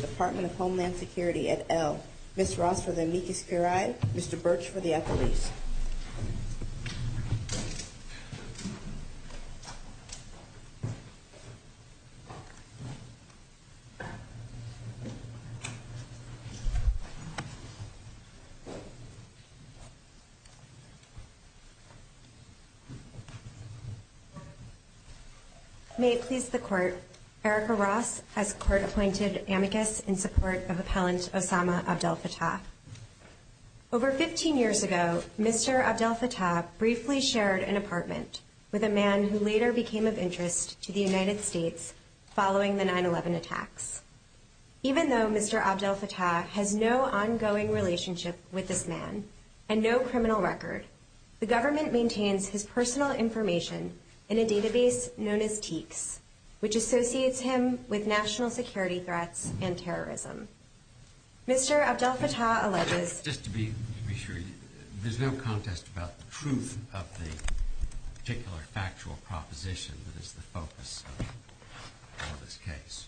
Department of Homeland Security, et al. Ms. Ross for the amicus curiae, Mr. Birch for the affilies. May it please the Court, Erica Ross has court-appointed amicus in support of Appellant Osama Abdelfattah. Over 15 years ago, Mr. Abdelfattah briefly shared an apartment with a man who later became of interest to the United States following the 9-11 attacks. Even though Mr. Abdelfattah has no ongoing relationship with this man and no criminal record, the government maintains his personal information in a database known as TEEX, which Mr. Abdelfattah alleges. Just to be sure, there's no contest about the truth of the particular factual proposition that is the focus of this case?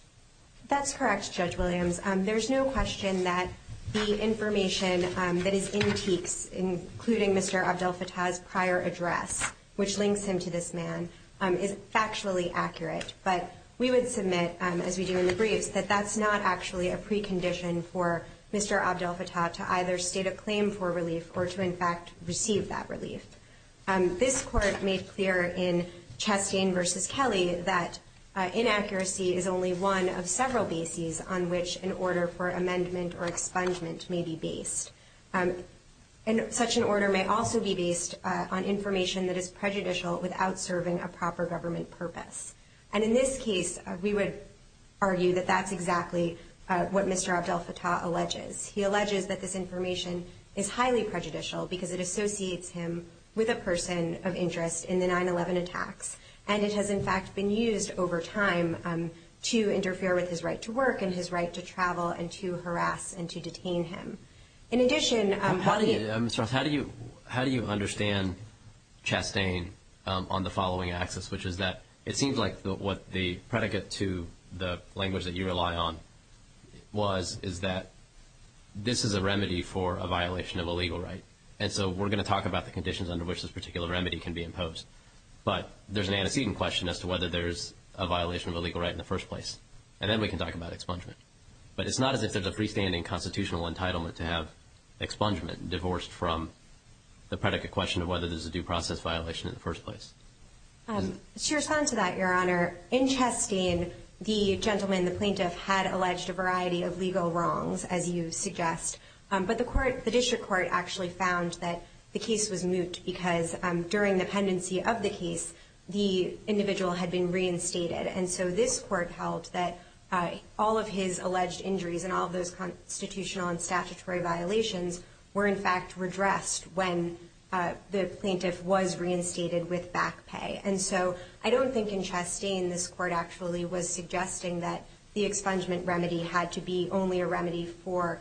That's correct, Judge Williams. There's no question that the information that is in TEEX, including Mr. Abdelfattah's prior address, which links him to this man, is factually accurate. But we would submit, as we do in the briefs, that that's not actually a precondition for Mr. Abdelfattah to either state a claim for relief or to, in fact, receive that relief. This Court made clear in Chastain v. Kelly that inaccuracy is only one of several bases on which an order for amendment or expungement may be based. And such an order may also be And in this case, we would argue that that's exactly what Mr. Abdelfattah alleges. He alleges that this information is highly prejudicial because it associates him with a person of interest in the 9-11 attacks. And it has, in fact, been used over time to interfere with his right to work and his right to travel and to harass and to detain him. In addition, how do you, Mr. Ross, how do you understand Chastain on the following axis, which is that it seems like what the predicate to the language that you rely on was is that this is a remedy for a violation of a legal right. And so we're going to talk about the conditions under which this particular remedy can be imposed. But there's an antecedent question as to whether there's a violation of a legal right in the first place. And then we can talk about expungement. But it's not as if there's a freestanding constitutional entitlement to have expungement divorced from the predicate question of whether there's a due process violation in the first place. To respond to that, Your Honor, in Chastain, the gentleman, the plaintiff, had alleged a variety of legal wrongs, as you suggest. But the court, the district court, actually found that the case was moot because during the pendency of the case, the individual had been reinstated. And so this court held that all of his alleged injuries and all of those constitutional and statutory violations were, in fact, redressed when the plaintiff was reinstated with back pay. And so I don't think in Chastain this court actually was suggesting that the expungement remedy had to be only a remedy for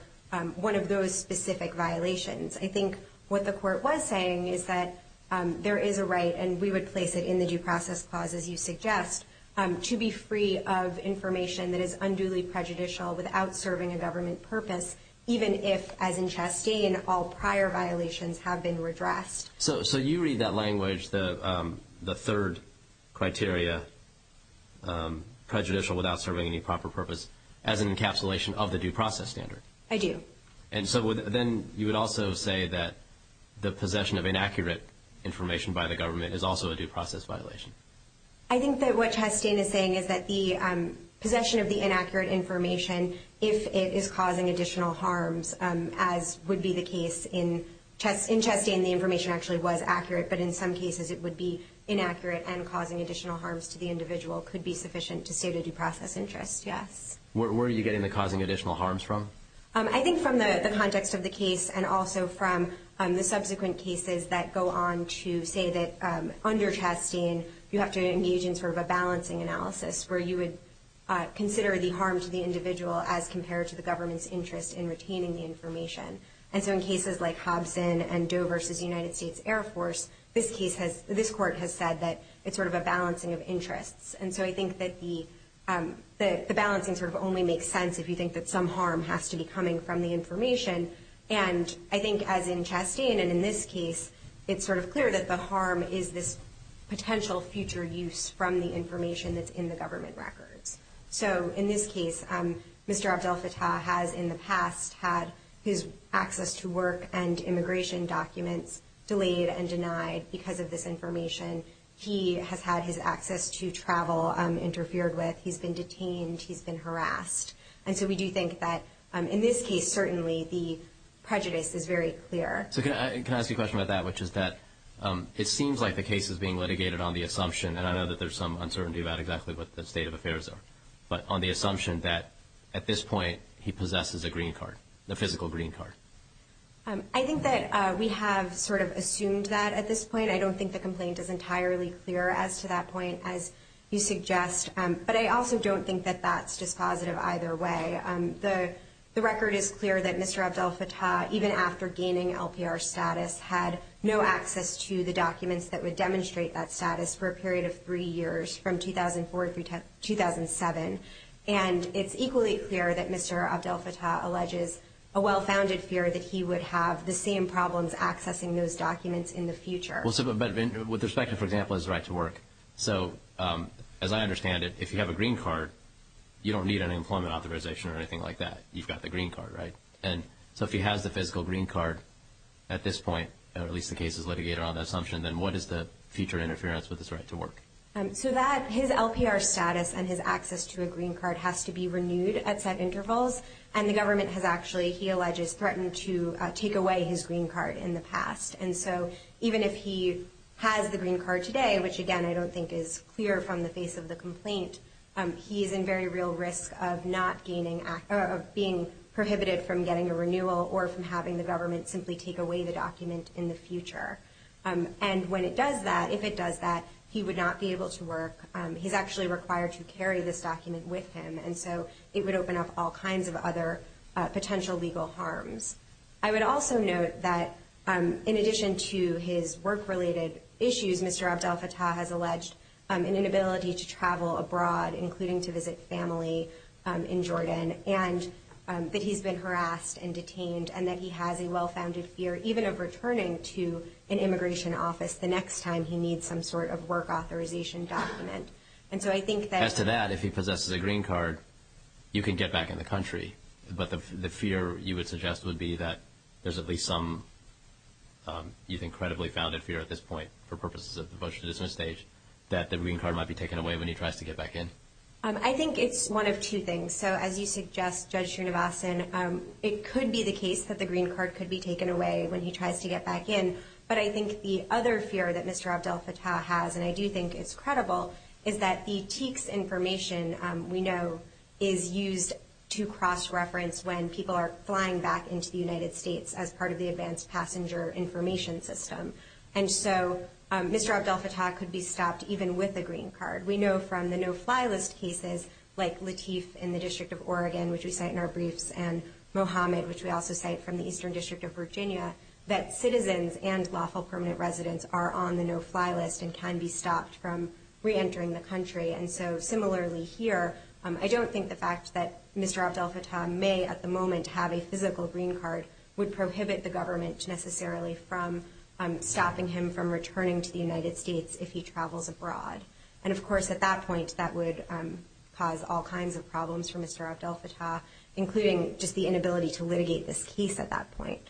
one of those specific violations. I think what the court was saying is that there is a right, and we would place it in the due process clause, as you suggest, to be free of information that is unduly prejudicial without serving a government purpose, even if, as in Chastain, all prior violations have been redressed. So you read that language, the third criteria, prejudicial without serving any proper purpose, as an encapsulation of the due process standard? I do. And so then you would also say that the possession of inaccurate information by the government is also a due process violation? I think that what Chastain is saying is that the possession of the inaccurate information, if it is causing additional harms, as would be the case in Chastain, the information actually was accurate. But in some cases, it would be inaccurate and causing additional harms to the individual could be sufficient to save the due process interest, yes. Where are you getting the causing additional harms from? I think from the context of the case and also from the subsequent cases that go on to say that under Chastain, you have to engage in sort of a balancing analysis where you would consider the harm to the individual as compared to the government's interest in retaining the information. And so in cases like Hobson and Doe v. United States Air Force, this court has said that it's sort of a balancing of interests. And so I think that the balancing sort of only makes sense if you think that some harm has to be coming from the information. And I think as in Chastain and in this case, it's sort of clear that the harm is this potential future use from the information that's in the government records. So in this case, Mr. Abdel Fattah has in the past had his access to work and immigration documents delayed and denied because of this information. He has had his access to travel interfered with. He's been detained. He's been harassed. And so we do think that in this case, certainly the prejudice is very clear. So can I ask you a question about that, which is that it seems like the case is being litigated on the assumption, and I know that there's some uncertainty about exactly what the state of affairs are, but on the assumption that at this point, he possesses a green card, the physical green card. I think that we have sort of assumed that at this point. I don't think the complaint is entirely clear as to that point, as you suggest. But I also don't think that that's dispositive either way. The record is clear that Mr. Abdel Fattah, even after gaining LPR status, had no access to the documents that would demonstrate that status for a period of three years from 2004 to 2007. And it's equally clear that Mr. Abdel Fattah alleges a well-founded fear that he would have the same problems accessing those documents in the future. With respect to, for example, his right to work, so as I understand it, if you have a green card, you don't need an employment authorization or anything like that. You've got the green card, right? So if he has the physical green card at this point, or at least the case is litigated on that assumption, then what is the future interference with his right to work? So that, his LPR status and his access to a green card has to be renewed at set intervals, and the government has actually, he alleges, threatened to take away his green card in the past. And so even if he has the green card today, which again, I don't think is clear from the face of the complaint, he is in very real risk of not gaining, of being prohibited from getting a renewal or from having the government simply take away the document in the future. And when it does that, if it does that, he would not be able to work. He's actually required to carry this document with him, and so it would open up all kinds of other potential legal harms. I would also note that in addition to his work-related issues, Mr. Abdel-Fattah has alleged an inability to travel abroad, including to visit family in Jordan, and that he's been harassed and detained, and that he has a well-founded fear even of returning to an immigration office the next time he needs some sort of work authorization document. And so I think that... As to that, if he possesses a green card, you can get back in the country, but the fear you would suggest would be that there's at least some, you think, credibly founded fear at this point, for purposes of the motion to dismiss stage, that the green card might be taken away when he tries to get back in. I think it's one of two things. So as you suggest, Judge Srinivasan, it could be the case that the green card could be taken away when he tries to get back in. But I think the other fear that Mr. Abdel-Fattah has, and I do think it's credible, is that the green card could be taken away when he tries to fly back into the United States as part of the Advanced Passenger Information System. And so Mr. Abdel-Fattah could be stopped even with a green card. We know from the no-fly list cases, like Lateef in the District of Oregon, which we cite in our briefs, and Mohamed, which we also cite from the Eastern District of Virginia, that citizens and lawful permanent residents are on the no-fly list and can be stopped from reentering the country. And so similarly here, I don't think the fact that Mr. Abdel-Fattah may at the moment have a physical green card would prohibit the government necessarily from stopping him from returning to the United States if he travels abroad. And of course, at that point, that would cause all kinds of problems for Mr. Abdel-Fattah, including just the inability to litigate this case at that point.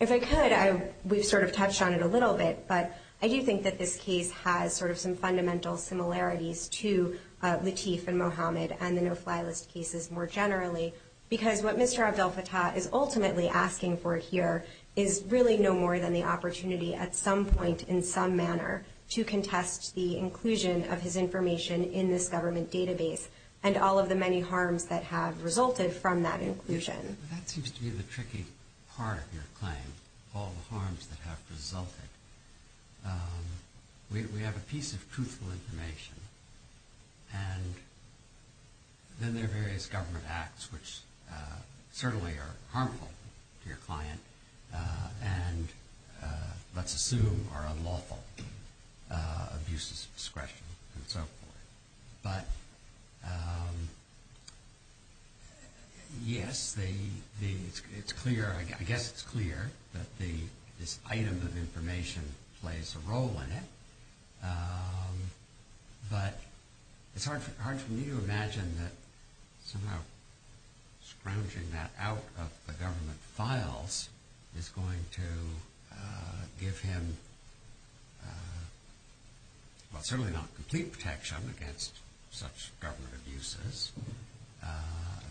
If I could, we've sort of touched on it a little bit, but I do think that this case has sort of some fundamental similarities to Lateef and Mohamed and the no-fly list cases more generally, because what Mr. Abdel-Fattah is ultimately asking for here is really no more than the opportunity at some point in some manner to contest the inclusion of his information in this government database and all of the many harms that have resulted from that inclusion. That seems to be the tricky part of your claim, all the harms that have resulted. We have a piece of truthful information and then there are various government acts which certainly are harmful to your client and let's assume are unlawful, abuses of discretion and so forth. But yes, it's clear, I guess it's clear that this item of information plays a role in it, but it's hard for me to imagine that somehow scrounging that out of the government files is going to give him, well certainly not complete protection against such government abuses.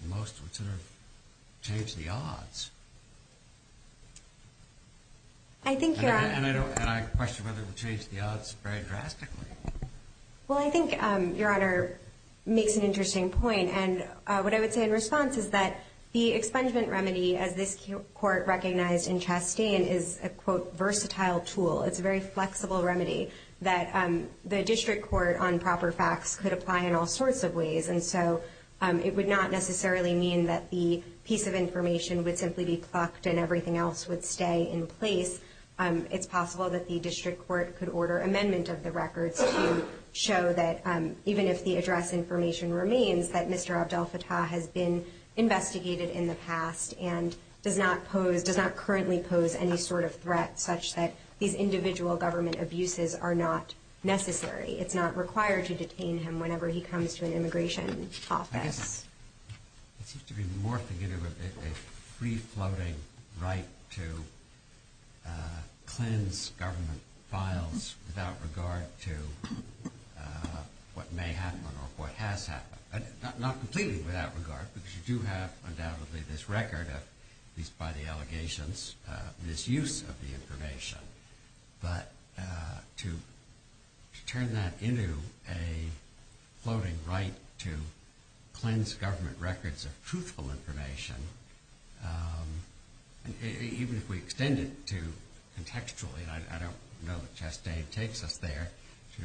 Most would sort of change the odds. And I question whether it would change the odds very drastically. Well I think Your Honor makes an interesting point and what I would say in response is that the expungement remedy as this court recognized in Chastain is a quote versatile tool. It's a very flexible remedy that the district court on proper facts could apply in all sorts of ways. And so it would not necessarily mean that the piece of information would simply be plucked and everything else would stay in place. It's possible that the district court could order amendment of the records to show that even if the address information remains that Mr. Abdel-Fattah has been investigated in the past and does not pose, does not currently pose any sort of threat such that these individual government abuses are not necessary. It's not required to detain him whenever he comes to an immigration office. I guess it seems to be more figurative of a free floating right to cleanse government files without regard to what may happen or what has happened. Not completely without regard because you do have undoubtedly this record of, at least by the allegations, misuse of the information. But to turn that into a floating right to cleanse government records of truthful information, even if we extend it to contextually, I don't know that Chastain takes us there to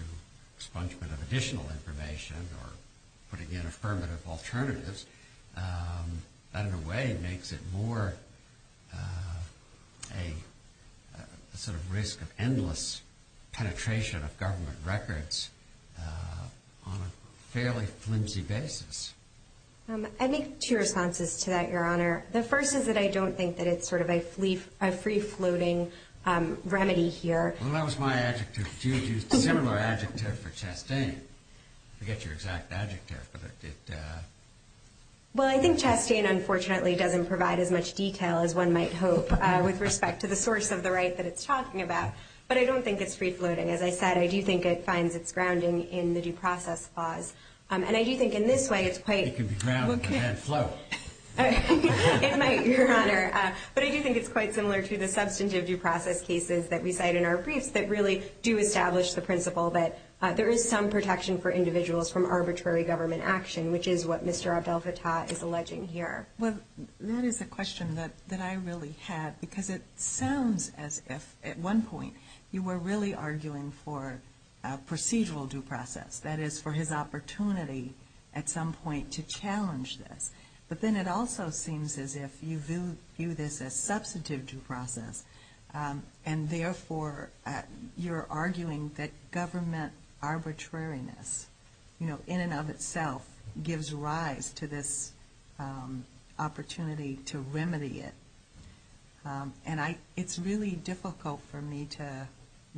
expungement of additional information or putting in affirmative alternatives, that in a way makes it more a sort of risk of endless penetration of government records on a fairly flimsy basis. I'd make two responses to that, Your Honor. The first is that I don't think that it's sort of a free floating remedy here. Well, that was my adjective. Do you use a similar adjective for Chastain? I forget your exact adjective. Well, I think Chastain unfortunately doesn't provide as much detail as one might hope with respect to the source of the right that it's talking about. But I don't think it's free floating. As I said, I do think it finds its grounding in the due process clause. And I think it can be grounded in that flow. It might, Your Honor. But I do think it's quite similar to the substantive due process cases that we cite in our briefs that really do establish the principle that there is some protection for individuals from arbitrary government action, which is what Mr. Abdel Fattah is alleging here. Well, that is a question that I really had because it sounds as if at one point you were really arguing for a procedural due process, that is, for his opportunity at some point to challenge this. But then it also seems as if you view this as substantive due process and therefore you're arguing that government arbitrariness, you know, in and of itself gives rise to this opportunity to remedy it. And it's really difficult for me to go into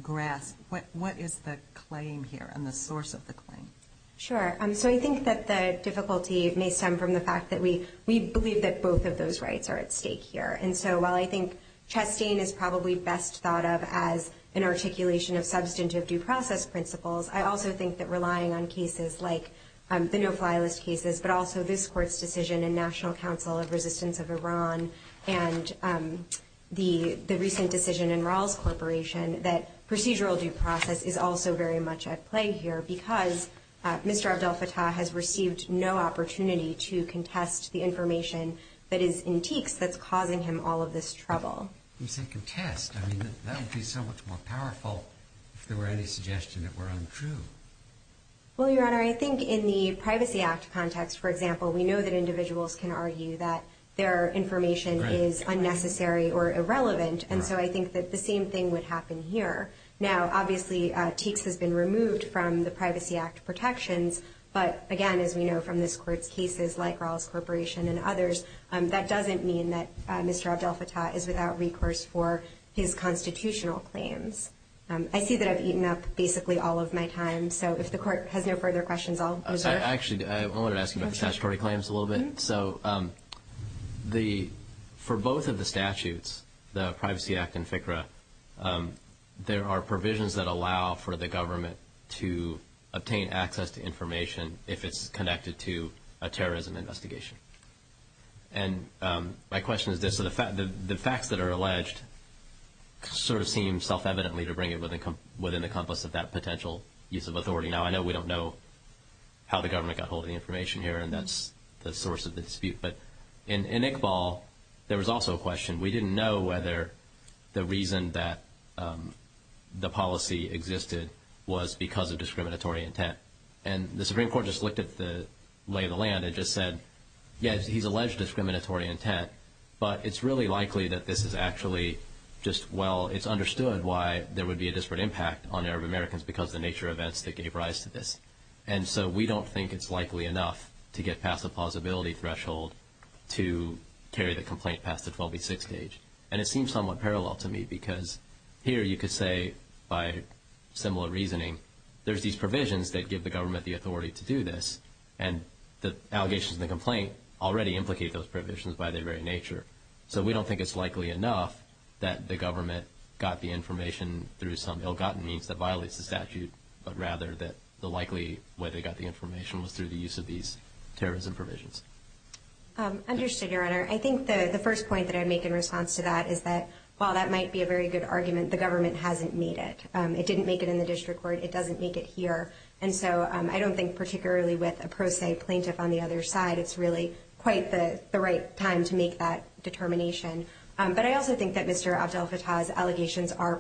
grasp what is the claim here and the source of the claim. Sure. So I think that the difficulty may stem from the fact that we believe that both of those rights are at stake here. And so while I think Chastain is probably best thought of as an articulation of substantive due process principles, I also think that relying on cases like the no-fly list cases, but also this Court's decision in National Council of Resistance of Iran and the recent decision in Rawls Corporation, that procedural due process is also very much at play here because Mr. Abdel Fattah has received no opportunity to contest the information that is in teaks that's causing him all of this trouble. When you say contest, I mean, that would be so much more powerful if there were any suggestion that were untrue. Well, Your Honor, I think in the Privacy Act context, for example, we know that individuals can argue that their information is unnecessary or irrelevant. And so I think that the same thing would happen here. Now, obviously, teaks has been removed from the Privacy Act protections. But again, as we know from this Court's cases like Rawls Corporation and others, that doesn't mean that Mr. Abdel Fattah is without recourse for his constitutional claims. I see that I've eaten up basically all of my time. So if the Court has no further questions, I'll reserve. Actually, I wanted to ask you about the statutory claims a little bit. So for both of the statutes, the Privacy Act and FCRA, there are provisions that allow for the government to obtain access to information if it's connected to a terrorism investigation. And my question is this. The facts that are alleged sort of seem self-evidently to bring it within the compass of that potential use of authority. Now, I know we don't know how the government got hold of the information here, and that's the source of the dispute. But in Iqbal, there was also a question. We didn't know whether the reason that the policy existed was because of discriminatory intent. And the Supreme Court just looked at the lay of the land and just said, yes, he's alleged discriminatory intent, but it's really likely that this is actually just, well, it's understood why there would be a disparate impact on Arab Americans because of the nature of events that gave rise to this. And so we don't think it's likely enough to get past the plausibility threshold to carry the complaint past the 12b6 stage. And it seems somewhat parallel to me, because here you could say, by similar reasoning, there's these provisions that give the government the authority to do this, and the allegations in the complaint already implicate those provisions by their very nature. So we don't think it's likely enough that the government got the information through some ill-gotten means that violates the statute, but rather that the likely way they got the information was through the use of these terrorism provisions. Understood, Your Honor. I think the first point that I make in response to that is that while that might be a very good argument, the government hasn't made it. It didn't make it in the district court. It doesn't make it here. And so I don't think particularly with a pro se plaintiff on the other side, it's really quite the right time to make that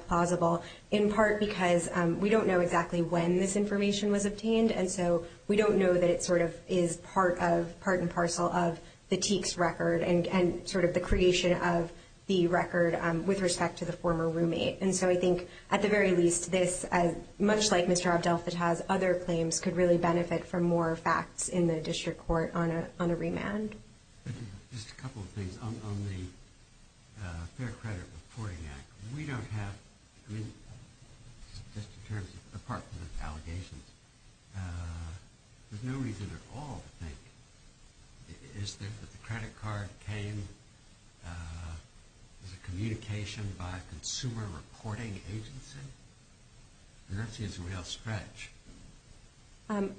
plausible, in part because we don't know exactly when this information was obtained, and so we don't know that it sort of is part and parcel of the Teek's record and sort of the creation of the record with respect to the former roommate. And so I think at the very least, this, much like Mr. Abdel-Fattah's other claims, could really benefit from more facts in the district court on a remand. Just a couple of things. On the Fair Credit Reporting Act, we don't have, I mean, just in terms of, apart from the allegations, there's no reason at all to think that the credit card came as a communication by a consumer reporting agency. And that seems a real stretch.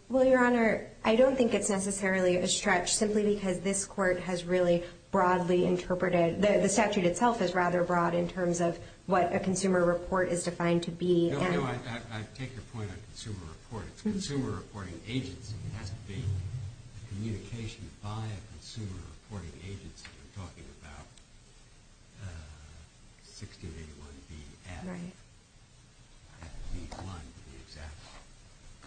Well, Your Honor, I don't think it's necessarily a stretch simply because this court has really broadly interpreted, the statute itself is rather broad in terms of what a consumer report is defined to be. No, no, I take your point on consumer report. It's a consumer reporting agency. It hasn't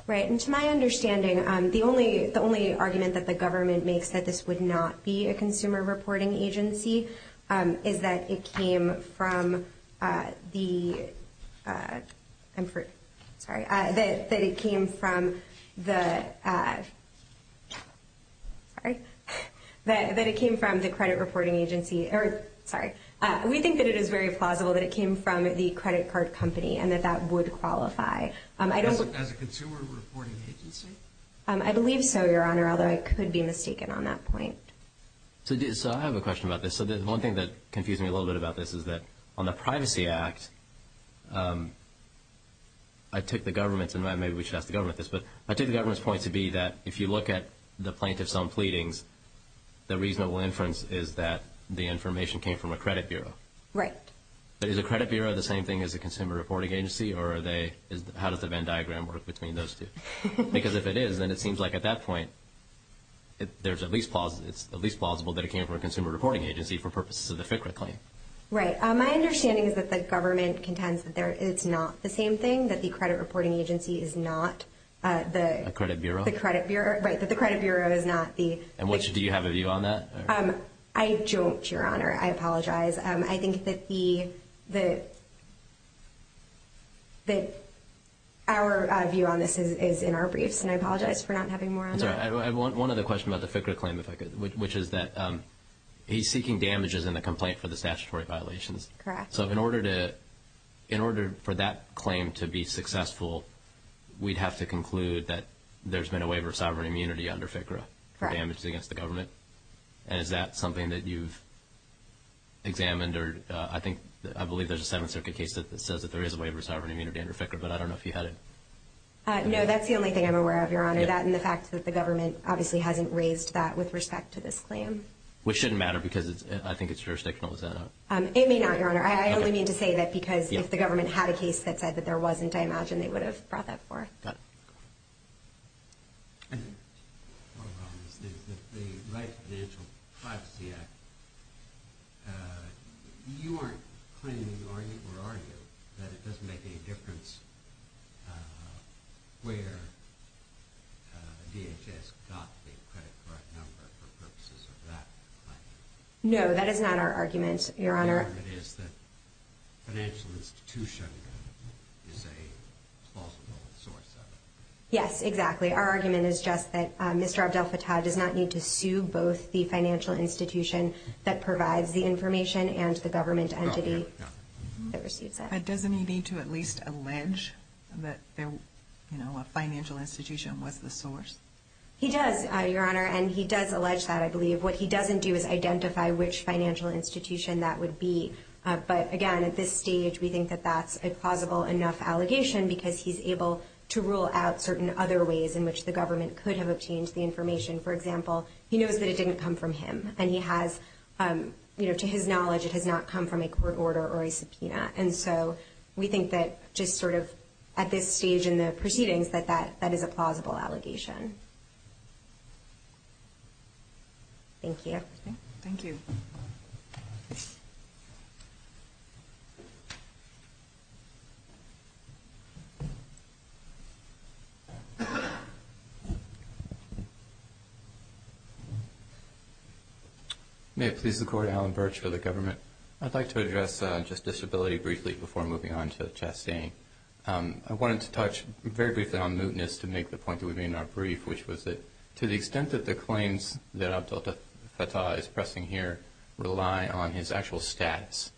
Right. And to my understanding, the only argument that the government makes that this would not be a consumer reporting agency is that it came from the, I'm sorry, that it came from the, sorry, that it came from the credit reporting agency, or sorry, we think that it is very plausible that it came from the credit card company and that that would qualify. As a consumer reporting agency? I believe so, Your Honor, although I could be mistaken on that point. So I have a question about this. So the one thing that confused me a little bit about this is that on the Privacy Act, I took the government's, and maybe we should ask the government this, but I took the government's point to be that if you look at the plaintiff's own pleadings, the reasonable inference is that the information came from a credit bureau. Right. But is a credit bureau the same thing as a consumer reporting agency, or are they, how does the Venn diagram work between those two? Because if it is, then it seems like at that point, it's at least plausible that it came from a consumer reporting agency for purposes of the FCRA claim. Right. My understanding is that the government contends that it's not the same thing, that the credit reporting agency is not the… A credit bureau? The credit bureau, right, that the credit bureau is not the… And do you have a view on that? I don't, Your Honor. I apologize. I think that the, that our view on this is in our briefs, and I apologize for not having more on that. I'm sorry. I have one other question about the FCRA claim, if I could, which is that he's seeking damages in the complaint for the statutory violations. Correct. So in order to, in order for that claim to be successful, we'd have to conclude that Correct. there were no damages against the government, and is that something that you've examined or, I think, I believe there's a Seventh Circuit case that says that there is a waiver of sovereign immunity under FCRA, but I don't know if you had it. No, that's the only thing I'm aware of, Your Honor, that and the fact that the government obviously hasn't raised that with respect to this claim. Which shouldn't matter, because I think it's jurisdictional, is that not? It may not, Your Honor. I only mean to say that because if the government had a case that said that there wasn't, I imagine they would have brought that forth. Got it. One of the problems is that the Right to Financial Privacy Act, you aren't claiming, are you, or are you, that it doesn't make any difference where DHS got the credit card number for purposes of that claim? No, that is not our argument, Your Honor. Our argument is that financial institution is a plausible source of it. Yes, exactly. Our argument is just that Mr. Abdel-Fattah does not need to sue both the financial institution that provides the information and the government entity that receives it. Doesn't he need to at least allege that a financial institution was the source? He does, Your Honor, and he does allege that, I believe. What he doesn't do is identify which financial institution that would be. But again, at this stage, we think that that's a plausible enough allegation, because he's able to rule out certain other ways in which the government could have obtained the information. For example, he knows that it didn't come from him, and he has, to his knowledge, And so we think that just sort of at this stage in the proceedings that that is a plausible allegation. Thank you. Thank you. May it please the Court, Allen Birch for the government. I'd like to address just disability briefly before moving on to Chastain. I wanted to touch very briefly on mootness to make the point that we may not brief, which was that to the extent that the claims that Abdel-Fattah is pressing here rely on his actual status,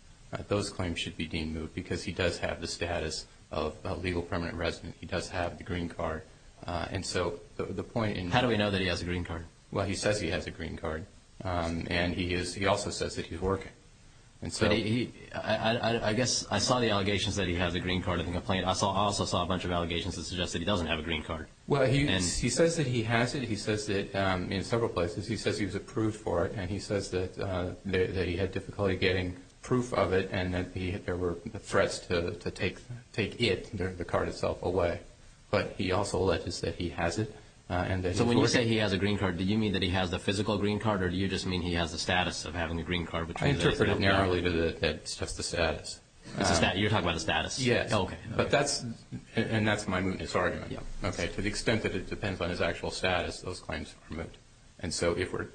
those claims should be deemed moot, because he does have the status of a legal permanent resident. He does have the green card. How do we know that he has a green card? Well, he says he has a green card. And he also says that he's working. I guess I saw the allegations that he has a green card in the complaint. I also saw a bunch of allegations that suggested he doesn't have a green card. Well, he says that he has it. He says it in several places. He says he was approved for it, and he says that he had difficulty getting proof of it and that there were threats to take it, the card itself, away. But he also alleges that he has it and that he's working. So when you say he has a green card, do you mean that he has the physical green card, or do you just mean he has the status of having a green card? I interpret it narrowly that it's just the status. You're talking about the status? Yes. Okay. And that's my mootness argument. To the extent that it depends on his actual status, those claims are moot. And so the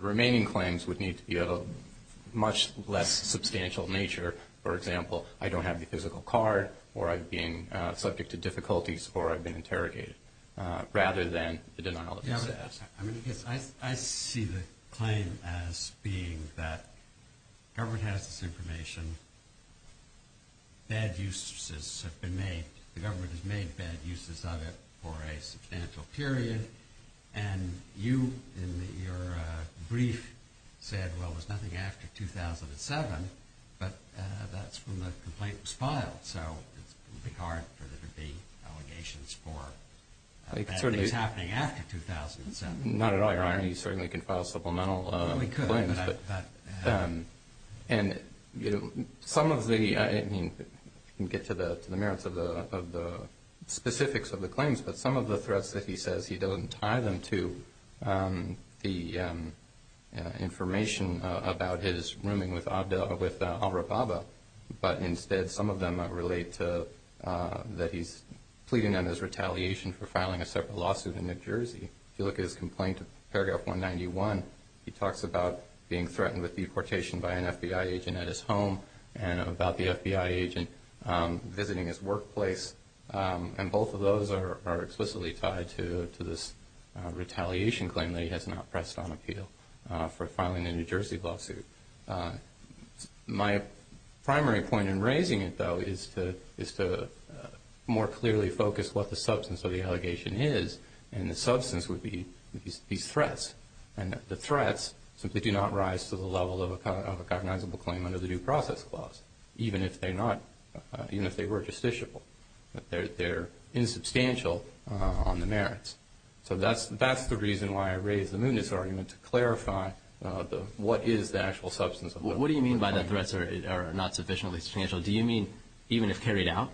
remaining claims would need to be of a much less substantial nature. For example, I don't have the physical card, or I'm being subject to difficulties, or I've been interrogated, rather than the denial of his status. I see the claim as being that government has this information, bad uses have been made, the government has made bad uses of it for a substantial period, and you in your brief said, well, there's nothing after 2007, but that's when the complaint was filed. So it would be hard for there to be allegations for bad use happening after 2007. Not at all, Your Honor. You certainly can file supplemental claims. Well, we could. And, you know, some of the, I mean, you can get to the merits of the specifics of the claims, but some of the threats that he says he doesn't tie them to the information about his rooming with al-Rababa, but instead some of them relate to that he's pleading on his retaliation for filing a separate lawsuit in New Jersey. If you look at his complaint, paragraph 191, he talks about being threatened with deportation by an FBI agent at his home and about the FBI agent visiting his workplace, and both of those are explicitly tied to this retaliation claim that he has not pressed on appeal for filing a New Jersey lawsuit. My primary point in raising it, though, is to more clearly focus what the substance of the allegation is, and the substance would be these threats, and that the threats simply do not rise to the level of a cognizable claim under the Due Process Clause, even if they were justiciable, that they're insubstantial on the merits. So that's the reason why I raised the Muniz argument, to clarify what is the actual substance of the complaint. What do you mean by the threats are not sufficiently substantial? Do you mean even if carried out?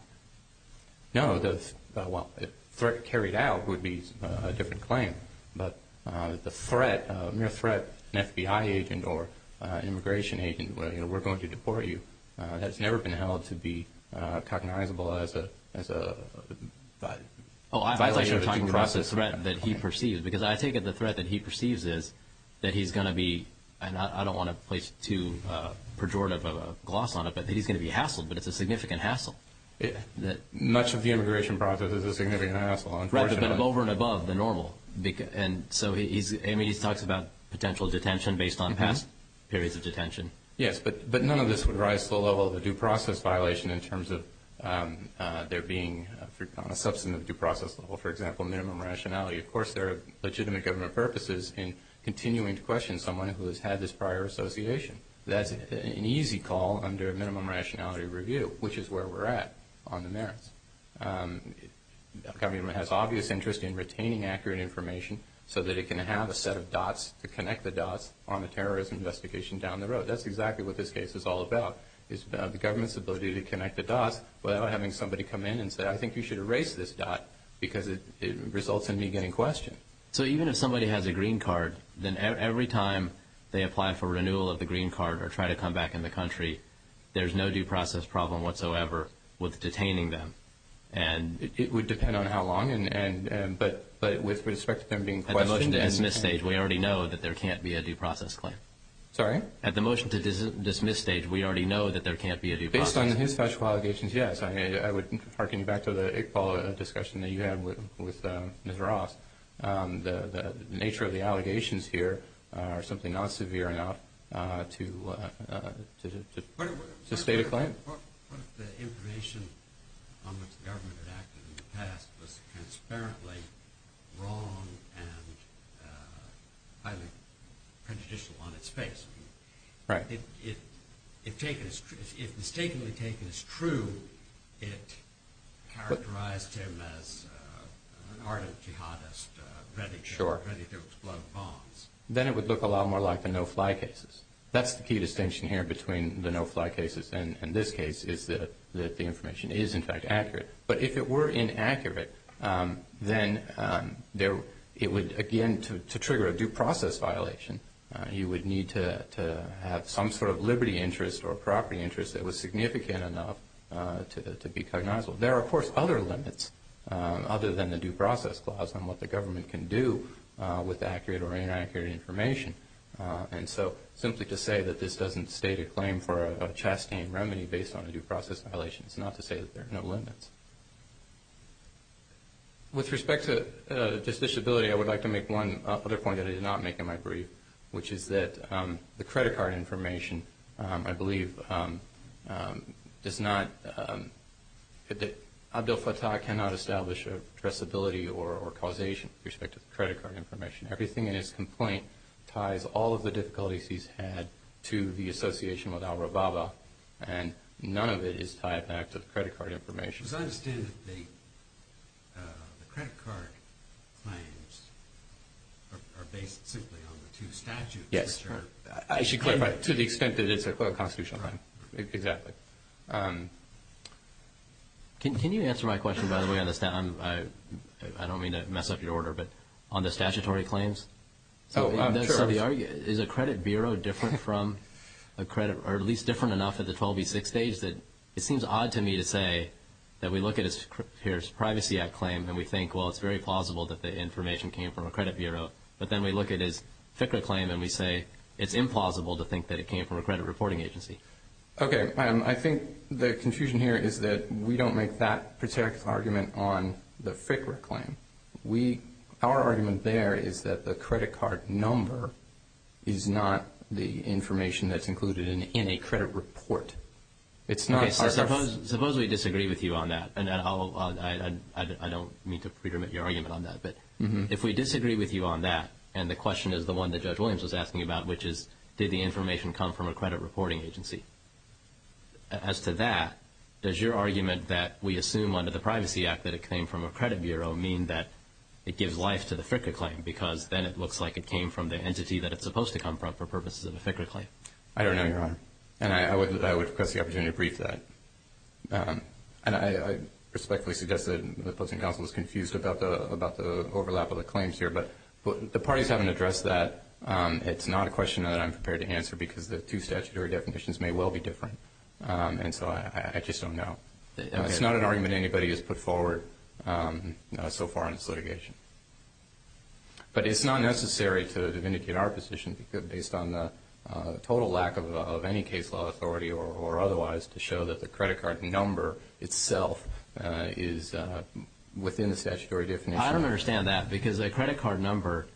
No. Well, if carried out would be a different claim, but the threat, a mere threat, an FBI agent or an immigration agent, you know, we're going to deport you, that's never been held to be cognizable as a violation of the due process. Oh, I thought you were talking about the threat that he perceives, because I take it the threat that he perceives is that he's going to be, and I don't want to place too pejorative of a gloss on it, but that he's going to be hassled, but it's a significant hassle. Much of the immigration process is a significant hassle, unfortunately. It would have been over and above the normal, and so he talks about potential detention based on past periods of detention. Yes, but none of this would rise to the level of a due process violation in terms of there being, on a substantive due process level, for example, minimum rationality. Of course, there are legitimate government purposes in continuing to question someone who has had this prior association. That's an easy call under a minimum rationality review, which is where we're at on the merits. The government has obvious interest in retaining accurate information, so that it can have a set of dots to connect the dots on the terrorism investigation down the road. That's exactly what this case is all about, is the government's ability to connect the dots without having somebody come in and say, I think you should erase this dot, because it results in me getting questioned. So even if somebody has a green card, then every time they apply for renewal of the green card or try to come back in the country, there's no due process problem whatsoever with detaining them. It would depend on how long, but with respect to them being questioned. At the motion to dismiss stage, we already know that there can't be a due process claim. Sorry? At the motion to dismiss stage, we already know that there can't be a due process claim. Based on his factual allegations, yes. I would hearken you back to the Iqbal discussion that you had with Ms. Ross. The nature of the allegations here are simply not severe enough to state a claim. What if the information on which the government had acted in the past was transparently wrong and highly prejudicial on its face? Right. If mistakenly taken as true, it characterized him as an ardent jihadist, ready to explode bombs. Then it would look a lot more like the no-fly cases. That's the key distinction here between the no-fly cases and this case, is that the information is, in fact, accurate. But if it were inaccurate, then it would, again, to trigger a due process violation, you would need to have some sort of liberty interest or property interest that was significant enough to be cognizable. There are, of course, other limits other than the due process clause on what the government can do with accurate or inaccurate information. And so simply to say that this doesn't state a claim for a chastain remedy based on a due process violation is not to say that there are no limits. With respect to this disability, I would like to make one other point that I did not make in my brief, which is that the credit card information, I believe, does not, that Abdel Fattah cannot establish a addressability or causation with respect to the credit card information. Everything in his complaint ties all of the difficulties he's had to the association with al-Rababa, and none of it is tied back to the credit card information. As I understand it, the credit card claims are based simply on the two statutes. Yes. I should clarify, to the extent that it's a constitutional claim. Right. Exactly. Can you answer my question, by the way? I don't mean to mess up your order, but on the statutory claims? Oh, sure. Is a credit bureau different from a credit, or at least different enough at the 12v6 stage that it seems odd to me to say that we look at his Privacy Act claim and we think, well, it's very plausible that the information came from a credit bureau, but then we look at his FICRA claim and we say it's implausible to think that it came from a credit reporting agency. Okay. I think the confusion here is that we don't make that particular argument on the FICRA claim. Our argument there is that the credit card number is not the information that's included in a credit report. Suppose we disagree with you on that, and I don't mean to predominate your argument on that, but if we disagree with you on that, and the question is the one that Judge Williams was asking about, which is did the information come from a credit reporting agency? As to that, does your argument that we assume under the Privacy Act that it came from a credit bureau mean that it gives life to the FICRA claim because then it looks like it came from the entity that it's supposed to come from for purposes of a FICRA claim? I don't know, Your Honor, and I would request the opportunity to brief that. And I respectfully suggest that the Posting Council is confused about the overlap of the claims here, but the parties haven't addressed that. It's not a question that I'm prepared to answer because the two statutory definitions may well be different, and so I just don't know. It's not an argument anybody has put forward so far in this litigation. But it's not necessary to vindicate our position based on the total lack of any case law authority or otherwise to show that the credit card number itself is within the statutory definition. Well, I don't understand that because a credit card number,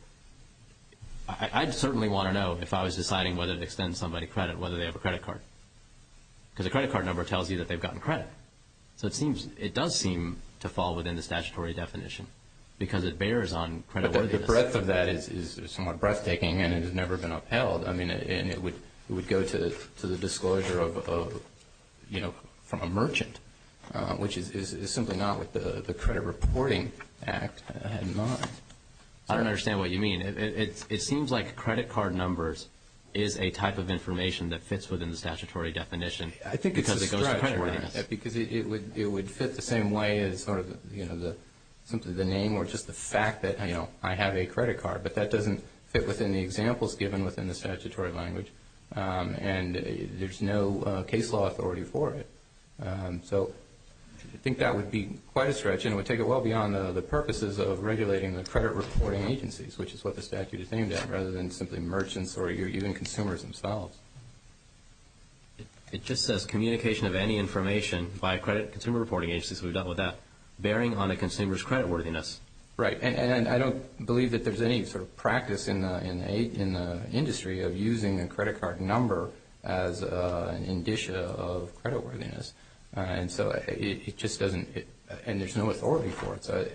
I'd certainly want to know if I was deciding whether to extend somebody credit whether they have a credit card because a credit card number tells you that they've gotten credit. So it does seem to fall within the statutory definition because it bears on credit worthiness. But the breadth of that is somewhat breathtaking and it has never been upheld. I mean, it would go to the disclosure of, you know, from a merchant, which is simply not what the Credit Reporting Act had in mind. I don't understand what you mean. It seems like credit card numbers is a type of information that fits within the statutory definition. I think it's a stretch because it would fit the same way as sort of, you know, simply the name or just the fact that, you know, I have a credit card. But that doesn't fit within the examples given within the statutory language, and there's no case law authority for it. So I think that would be quite a stretch, and it would take it well beyond the purposes of regulating the credit reporting agencies, which is what the statute is aimed at rather than simply merchants or even consumers themselves. It just says communication of any information by credit consumer reporting agencies. We've dealt with that. Bearing on a consumer's credit worthiness. Right, and I don't believe that there's any sort of practice in the industry of using a credit card number as an indicia of credit worthiness. And so it just doesn't, and there's no authority for it. So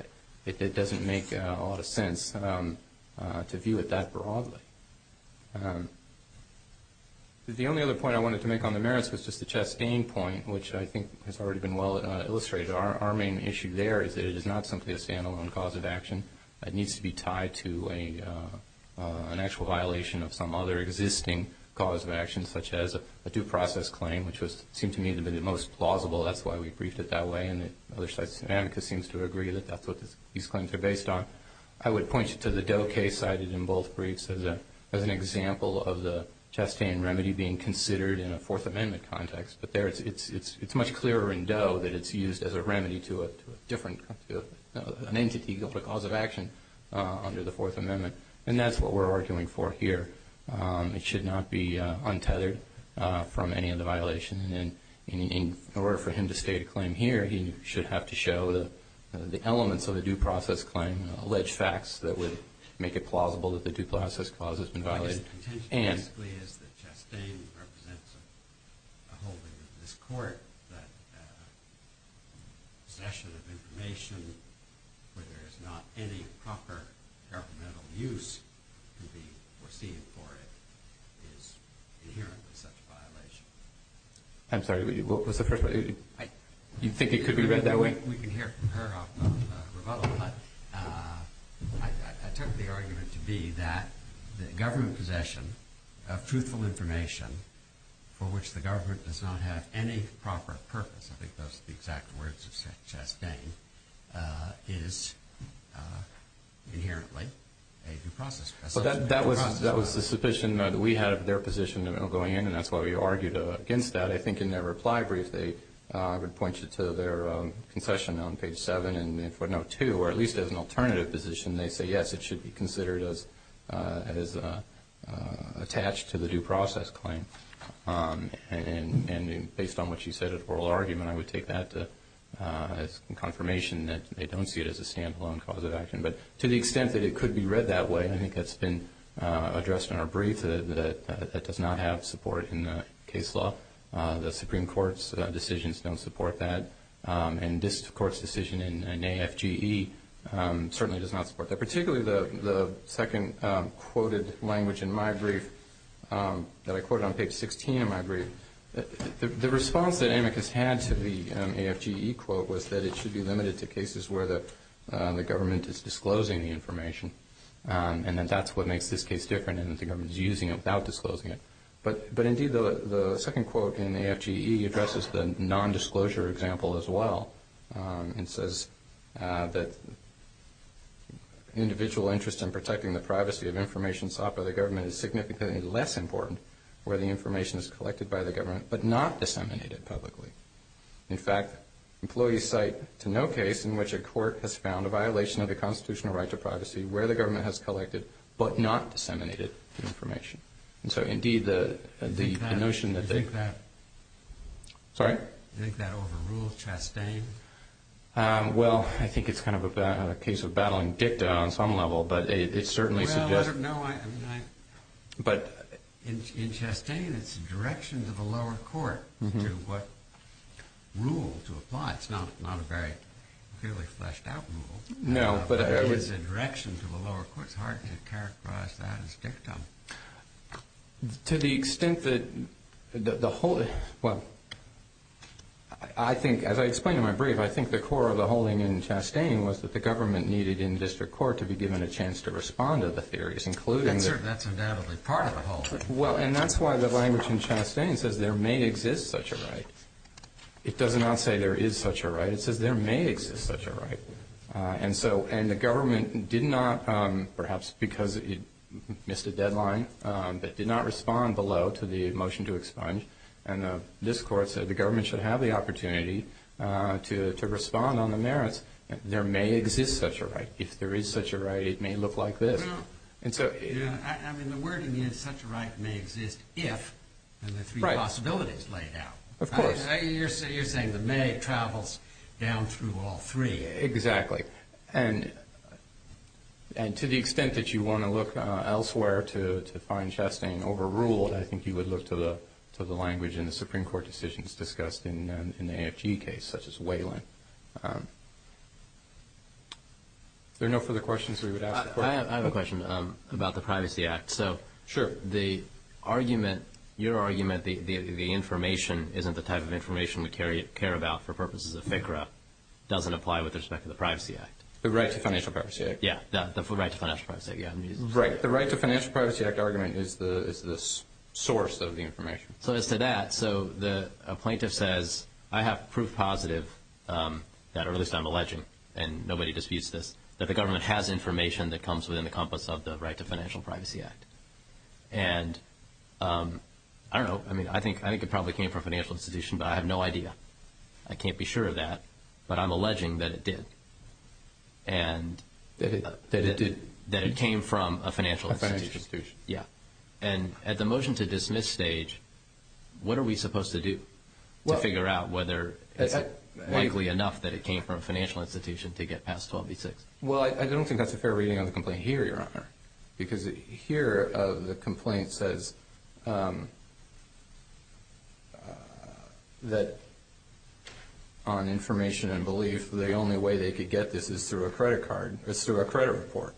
it doesn't make a lot of sense to view it that broadly. The only other point I wanted to make on the merits was just the Chastain point, which I think has already been well illustrated. Our main issue there is that it is not simply a standalone cause of action. It needs to be tied to an actual violation of some other existing cause of action, such as a due process claim, which seemed to me to be the most plausible. That's why we briefed it that way, and the other side's amicus seems to agree that that's what these claims are based on. I would point you to the Doe case cited in both briefs as an example of the Chastain remedy being considered in a Fourth Amendment context. But there it's much clearer in Doe that it's used as a remedy to a different, an entity called a cause of action under the Fourth Amendment, and that's what we're arguing for here. It should not be untethered from any of the violations. In order for him to state a claim here, he should have to show the elements of a due process claim, alleged facts that would make it plausible that the due process cause has been violated. My intention basically is that Chastain represents a holding in this court that possession of information where there is not any proper governmental use to be foreseen for it is inherent in such a violation. I'm sorry, what was the first one? You think it could be read that way? We can hear it from her off the rebuttal, but I took the argument to be that the government possession of truthful information for which the government does not have any proper purpose, I think those are the exact words of Chastain, is inherently a due process. That was the suspicion that we had of their position going in, and that's why we argued against that. I think in their reply brief, I would point you to their concession on page 7 in footnote 2, where at least as an alternative position they say, yes, it should be considered as attached to the due process claim. And based on what you said in the oral argument, I would take that as confirmation that they don't see it as a stand-alone cause of action. But to the extent that it could be read that way, I think that's been addressed in our brief, that it does not have support in the case law. The Supreme Court's decisions don't support that, and this Court's decision in AFGE certainly does not support that, particularly the second quoted language in my brief that I quoted on page 16 of my brief. The response that AMICUS had to the AFGE quote was that it should be limited to cases where the government is disclosing the information, and that that's what makes this case different, and that the government is using it without disclosing it. But indeed, the second quote in AFGE addresses the nondisclosure example as well, and says that individual interest in protecting the privacy of information sought by the government is significantly less important where the information is collected by the government but not disseminated publicly. In fact, employees cite to no case in which a court has found a violation of the constitutional right to privacy where the government has collected but not disseminated information. And so indeed, the notion that they... Do you think that... Sorry? Do you think that overruled Chastain? Well, I think it's kind of a case of battling dicta on some level, but it certainly suggests... Well, no, I... But... In Chastain, it's a direction to the lower court to what rule to apply. It's not a very clearly fleshed out rule. No, but I would... To the extent that the whole... Well, I think, as I explained in my brief, I think the core of the holding in Chastain was that the government needed in district court to be given a chance to respond to the theories, including... That's undoubtedly part of the holding. Well, and that's why the language in Chastain says there may exist such a right. It does not say there is such a right. It says there may exist such a right. And the government did not, perhaps because it missed a deadline, but did not respond below to the motion to expunge. And this court said the government should have the opportunity to respond on the merits. There may exist such a right. If there is such a right, it may look like this. And so... I mean, the wording is such a right may exist if... Right. And the three possibilities laid out. Of course. You're saying the may travels down through all three. Exactly. And to the extent that you want to look elsewhere to find Chastain overruled, I think you would look to the language in the Supreme Court decisions discussed in the AFG case, such as Whelan. Are there no further questions we would ask the court? I have a question about the Privacy Act. Sure. The argument, your argument, the information isn't the type of information we care about for purposes of FCRA, doesn't apply with respect to the Privacy Act. The Right to Financial Privacy Act. Yeah, the Right to Financial Privacy Act. Right. The Right to Financial Privacy Act argument is the source of the information. So as to that, so a plaintiff says, I have proof positive that, or at least I'm alleging, and nobody disputes this, that the government has information that comes within the compass of the Right to Financial Privacy Act. And I don't know. I mean, I think it probably came from a financial institution, but I have no idea. I can't be sure of that, but I'm alleging that it did. That it did. That it came from a financial institution. A financial institution. Yeah. And at the motion to dismiss stage, what are we supposed to do to figure out whether it's likely enough that it came from a financial institution to get past 12b-6? Well, I don't think that's a fair reading of the complaint here, Your Honor, because here the complaint says that on information and belief, the only way they could get this is through a credit card, is through a credit report.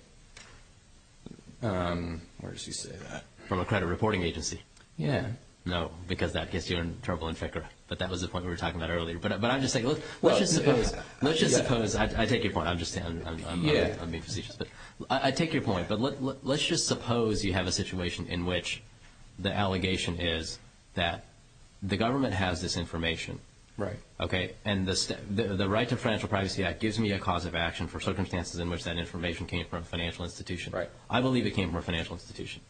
Where does he say that? From a credit reporting agency. Yeah. No, because that gets you in trouble in FCRA. But that was the point we were talking about earlier. But I'm just saying, let's just suppose. Let's just suppose. I take your point. I'm just saying. I'm being facetious. I take your point. But let's just suppose you have a situation in which the allegation is that the government has this information. Right. Okay. And the right to financial privacy act gives me a cause of action for circumstances in which that information came from a financial institution. Right. I believe it came from a financial institution.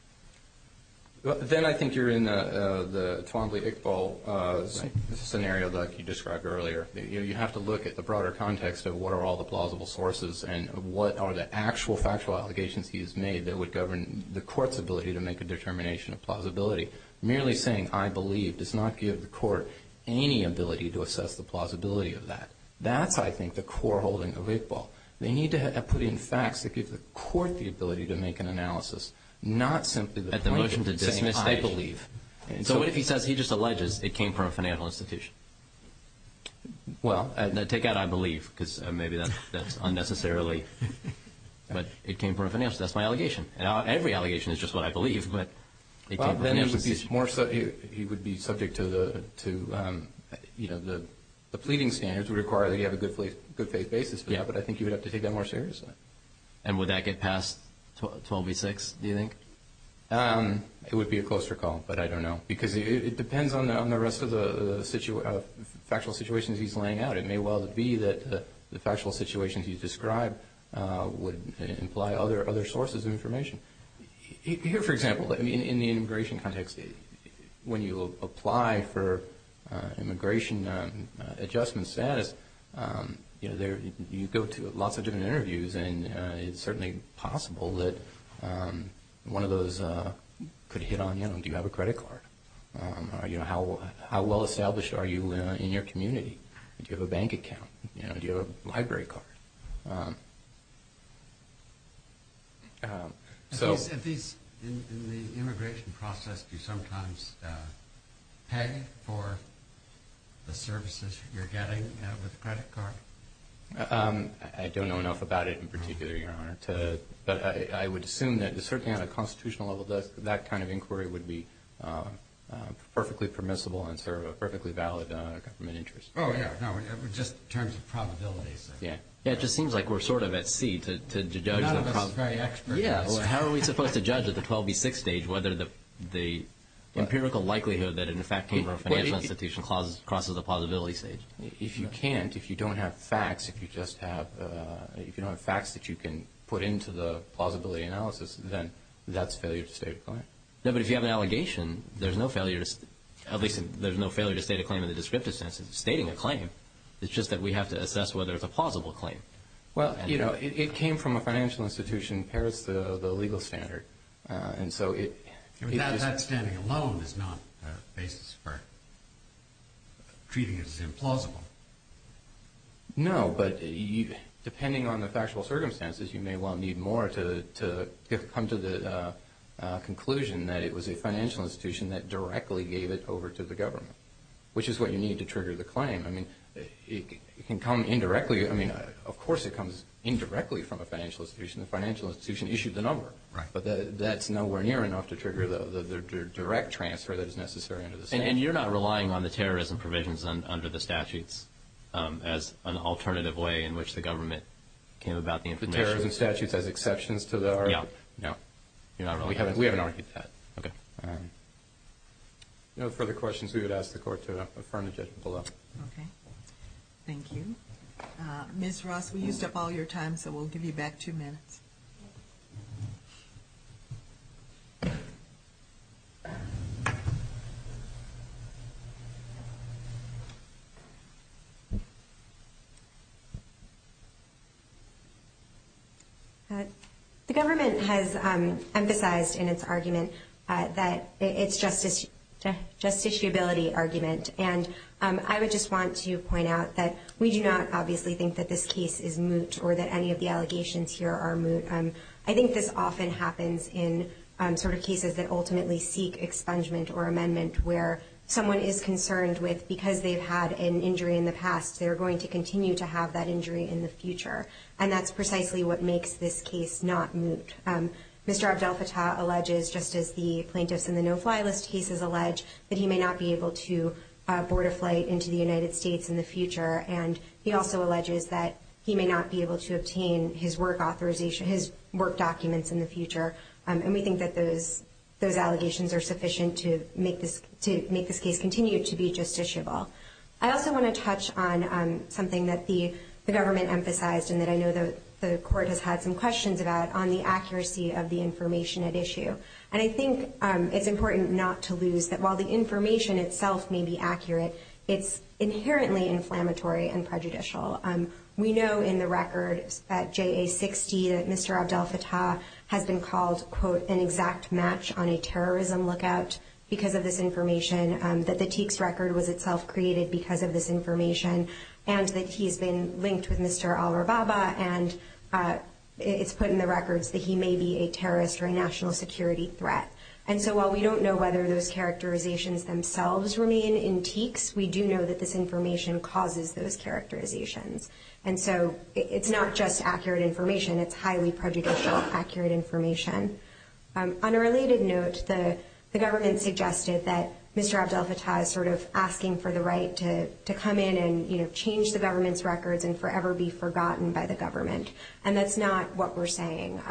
Then I think you're in the Twombly-Iqbal scenario that you described earlier. You have to look at the broader context of what are all the plausible sources and what are the actual factual allegations he has made that would govern the court's ability to make a determination of plausibility. Merely saying, I believe, does not give the court any ability to assess the plausibility of that. That's, I think, the core holding of Iqbal. They need to put in facts that give the court the ability to make an analysis, not simply the point. At the motion to dismiss, they believe. So what if he says he just alleges it came from a financial institution? Well. Take out I believe because maybe that's unnecessarily. But it came from a financial institution. That's my allegation. Every allegation is just what I believe, but it came from a financial institution. He would be subject to the pleading standards would require that you have a good faith basis for that. But I think you would have to take that more seriously. And would that get past 12 v. 6, do you think? It would be a closer call, but I don't know. Because it depends on the rest of the factual situations he's laying out. It may well be that the factual situations you described would imply other sources of information. Here, for example, in the immigration context, when you apply for immigration adjustment status, you go to lots of different interviews and it's certainly possible that one of those could hit on you. Do you have a credit card? How well established are you in your community? Do you have a bank account? Do you have a library card? At least in the immigration process, do you sometimes pay for the services you're getting with a credit card? I don't know enough about it in particular, Your Honor. But I would assume that certainly on a constitutional level, that kind of inquiry would be perfectly permissible and serve a perfectly valid government interest. Oh, yeah, no, just in terms of probability. Yeah, it just seems like we're sort of at sea to judge the probability. None of us is very expert. Yeah, well, how are we supposed to judge at the 12 v. 6 stage whether the empirical likelihood that it in fact came from a financial institution crosses the plausibility stage? If you can't, if you don't have facts, if you don't have facts that you can put into the plausibility analysis, then that's failure to state a claim. It's just that we have to assess whether it's a plausible claim. Well, you know, it came from a financial institution. It parrots the legal standard. That standing alone is not a basis for treating it as implausible. No, but depending on the factual circumstances, you may well need more to come to the conclusion that it was a financial institution that directly gave it over to the government, which is what you need to trigger the claim. I mean, it can come indirectly. I mean, of course it comes indirectly from a financial institution. The financial institution issued the number. Right. But that's nowhere near enough to trigger the direct transfer that is necessary under the statute. And you're not relying on the terrorism provisions under the statutes as an alternative way in which the government came about the information? The terrorism statutes as exceptions to the article? No, no. We haven't argued that. Okay. No further questions, we would ask the Court to affirm the judgment below. Okay. Thank you. Ms. Ross, we used up all your time, so we'll give you back two minutes. The government has emphasized in its argument that it's just a justiciability argument. And I would just want to point out that we do not obviously think that this case is moot or that any of the allegations here are moot. I think this often happens in sort of cases that ultimately seek expungement or amendment where someone is concerned with because they've had an injury in the past, they're going to continue to have that injury in the future. And that's precisely what makes this case not moot. Mr. Abdel-Fattah alleges, just as the plaintiffs in the no-fly list cases allege, that he may not be able to board a flight into the United States in the future. And he also alleges that he may not be able to obtain his work authorization, his work documents in the future. And we think that those allegations are sufficient to make this case continue to be justiciable. I also want to touch on something that the government emphasized and that I know the Court has had some questions about on the accuracy of the information at issue. And I think it's important not to lose that while the information itself may be accurate, it's inherently inflammatory and prejudicial. We know in the record at JA-60 that Mr. Abdel-Fattah has been called, quote, an exact match on a terrorism lookout because of this information, that the TEEX record was itself created because of this information, and that he's been linked with Mr. al-Rababa, and it's put in the records that he may be a terrorist or a national security threat. And so while we don't know whether those characterizations themselves remain in TEEX, we do know that this information causes those characterizations. And so it's not just accurate information. It's highly prejudicial accurate information. On a related note, the government suggested that Mr. Abdel-Fattah is sort of asking for the right to come in and change the government's records and forever be forgotten by the government. And that's not what we're saying.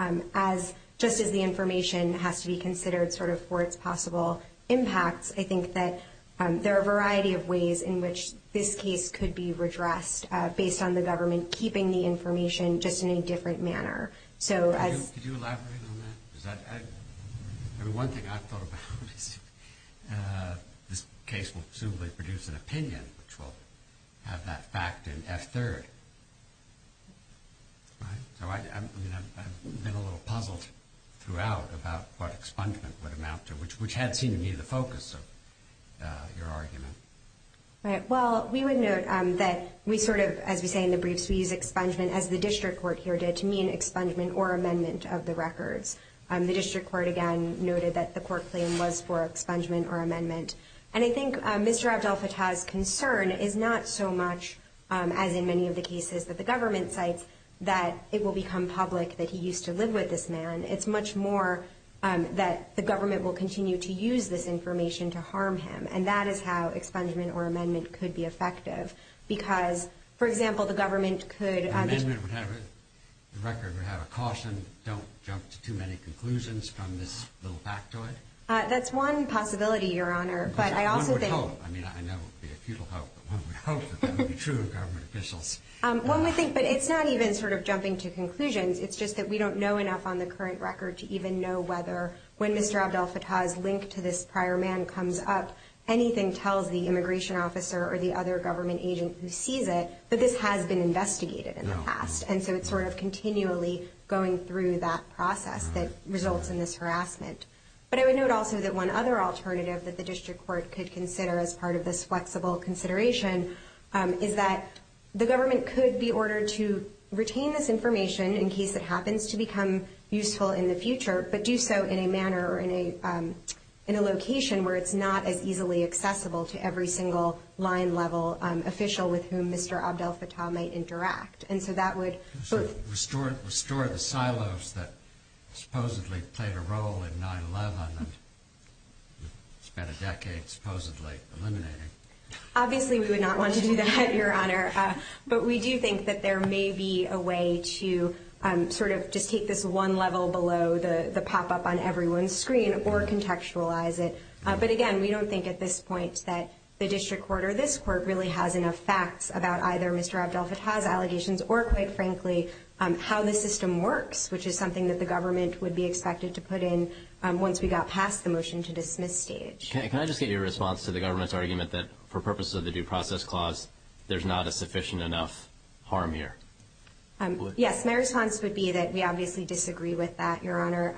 Just as the information has to be considered sort of for its possible impacts, I think that there are a variety of ways in which this case could be redressed based on the government keeping the information just in a different manner. Could you elaborate on that? One thing I've thought about is this case will presumably produce an opinion, which will have that fact in F-3rd. I've been a little puzzled throughout about what expungement would amount to, which had seemed to me the focus of your argument. Well, we would note that we sort of, as we say in the briefs, we use expungement as the district court here did to mean expungement or amendment of the records. The district court again noted that the court claim was for expungement or amendment. And I think Mr. Abdel-Fattah's concern is not so much, as in many of the cases that the government cites, that it will become public that he used to live with this man. It's much more that the government will continue to use this information to harm him. And that is how expungement or amendment could be effective. Because, for example, the government could- An amendment would have it, the record would have a caution, don't jump to too many conclusions from this little factoid. That's one possibility, Your Honor. But I also think- One would hope, I mean, I know it would be a futile hope, but one would hope that that would be true of government officials. One would think, but it's not even sort of jumping to conclusions. It's just that we don't know enough on the current record to even know whether, when Mr. Abdel-Fattah's link to this prior man comes up, anything tells the immigration officer or the other government agent who sees it that this has been investigated in the past. And so it's sort of continually going through that process that results in this harassment. But I would note also that one other alternative that the district court could consider as part of this flexible consideration is that the government could be ordered to retain this information in case it happens to become useful in the future, but do so in a manner or in a location where it's not as easily accessible to every single line-level official with whom Mr. Abdel-Fattah might interact. And so that would- Restore the silos that supposedly played a role in 9-11 and spent a decade supposedly eliminating. Obviously we would not want to do that, Your Honor. But we do think that there may be a way to sort of just take this one level below the pop-up on everyone's screen or contextualize it. But again, we don't think at this point that the district court or this court really has enough facts about either Mr. Abdel-Fattah's allegations or, quite frankly, how the system works, which is something that the government would be expected to put in once we got past the motion to dismiss stage. Can I just get your response to the government's argument that for purposes of the Due Process Clause, there's not a sufficient enough harm here? Yes, my response would be that we obviously disagree with that, Your Honor.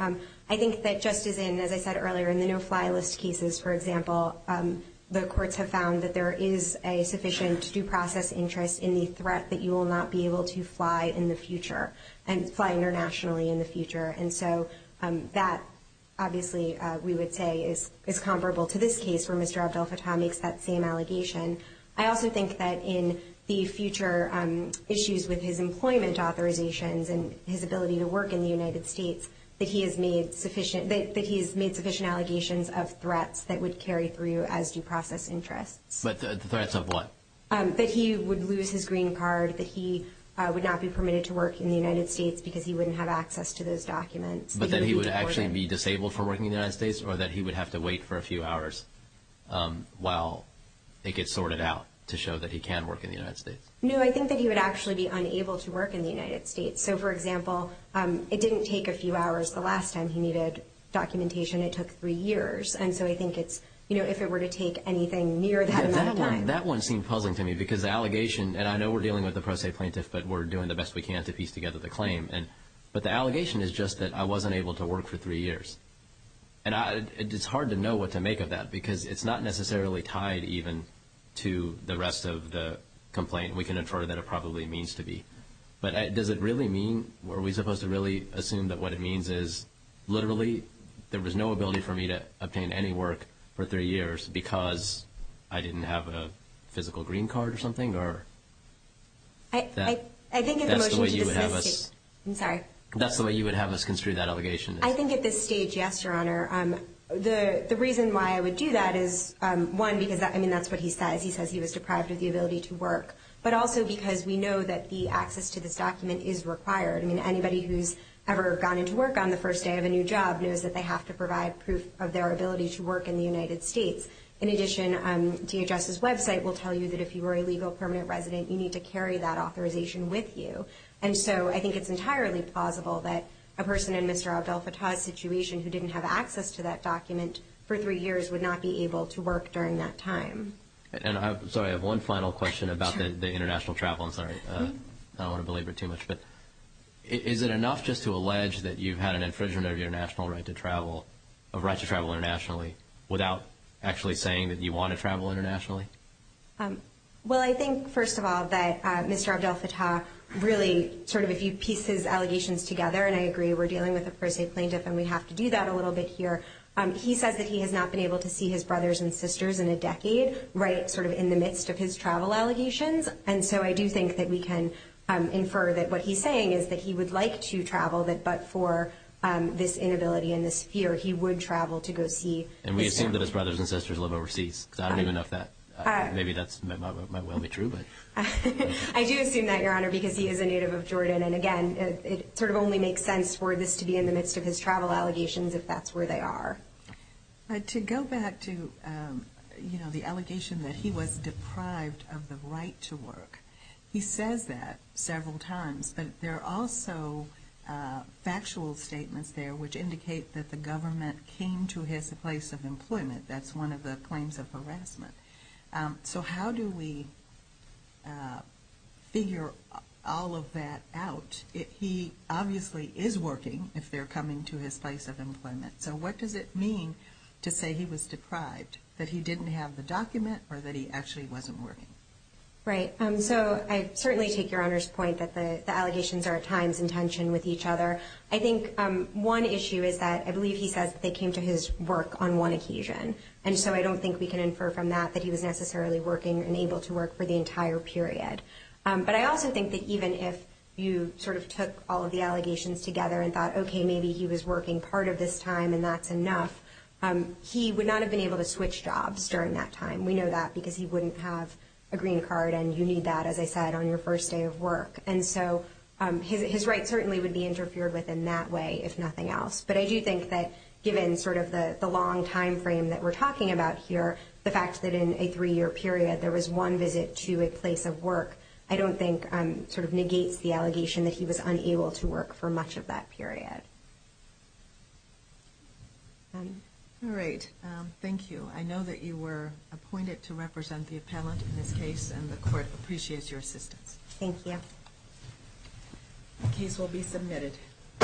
I think that just as in, as I said earlier, in the no-fly list cases, for example, the courts have found that there is a sufficient due process interest in the threat that you will not be able to fly in the future and fly internationally in the future. And so that, obviously, we would say is comparable to this case where Mr. Abdel-Fattah makes that same allegation. I also think that in the future issues with his employment authorizations and his ability to work in the United States, that he has made sufficient allegations of threats that would carry through as due process interests. But the threats of what? That he would lose his green card, that he would not be permitted to work in the United States because he wouldn't have access to those documents. But that he would actually be disabled from working in the United States or that he would have to wait for a few hours while it gets sorted out to show that he can work in the United States? No, I think that he would actually be unable to work in the United States. So, for example, it didn't take a few hours the last time he needed documentation. It took three years. And so I think it's, you know, if it were to take anything near that amount of time. That one seemed puzzling to me because the allegation, and I know we're dealing with the pro se plaintiff, but we're doing the best we can to piece together the claim. But the allegation is just that I wasn't able to work for three years. And it's hard to know what to make of that because it's not necessarily tied even to the rest of the complaint. We can infer that it probably means to be. But does it really mean? Are we supposed to really assume that what it means is literally there was no ability for me to obtain any work for three years because I didn't have a physical green card or something? I think at the motion to dismiss it. That's the way you would have us construe that allegation. I think at this stage, yes, Your Honor. The reason why I would do that is, one, because that's what he says. He says he was deprived of the ability to work. But also because we know that the access to this document is required. I mean, anybody who's ever gone into work on the first day of a new job knows that they have to provide proof of their ability to work in the United States. In addition, DHS's website will tell you that if you were a legal permanent resident, you need to carry that authorization with you. And so I think it's entirely plausible that a person in Mr. Abdel-Fattah's situation who didn't have access to that document for three years would not be able to work during that time. And I'm sorry, I have one final question about the international travel. I'm sorry. I don't want to belabor it too much. But is it enough just to allege that you've had an infringement of your national right to travel internationally without actually saying that you want to travel internationally? Well, I think, first of all, that Mr. Abdel-Fattah really sort of, if you piece his allegations together, and I agree we're dealing with a per se plaintiff and we have to do that a little bit here, he says that he has not been able to see his brothers and sisters in a decade right sort of in the midst of his travel allegations. And so I do think that we can infer that what he's saying is that he would like to travel, but for this inability and this fear, he would travel to go see his family. And we assume that his brothers and sisters live overseas. I don't even know if that, maybe that might well be true. I do assume that, Your Honor, because he is a native of Jordan. And, again, it sort of only makes sense for this to be in the midst of his travel allegations if that's where they are. To go back to, you know, the allegation that he was deprived of the right to work, he says that several times. But there are also factual statements there which indicate that the government came to his place of employment. That's one of the claims of harassment. So how do we figure all of that out? He obviously is working if they're coming to his place of employment. So what does it mean to say he was deprived, that he didn't have the document or that he actually wasn't working? Right. So I certainly take Your Honor's point that the allegations are at times in tension with each other. I think one issue is that I believe he says they came to his work on one occasion. And so I don't think we can infer from that that he was necessarily working and able to work for the entire period. But I also think that even if you sort of took all of the allegations together and thought, okay, maybe he was working part of this time and that's enough, he would not have been able to switch jobs during that time. We know that because he wouldn't have a green card and you need that, as I said, on your first day of work. And so his rights certainly would be interfered with in that way, if nothing else. But I do think that given sort of the long time frame that we're talking about here, the fact that in a three-year period there was one visit to a place of work, I don't think sort of negates the allegation that he was unable to work for much of that period. All right. Thank you. I know that you were appointed to represent the appellant in this case, and the court appreciates your assistance. Thank you. The case will be submitted.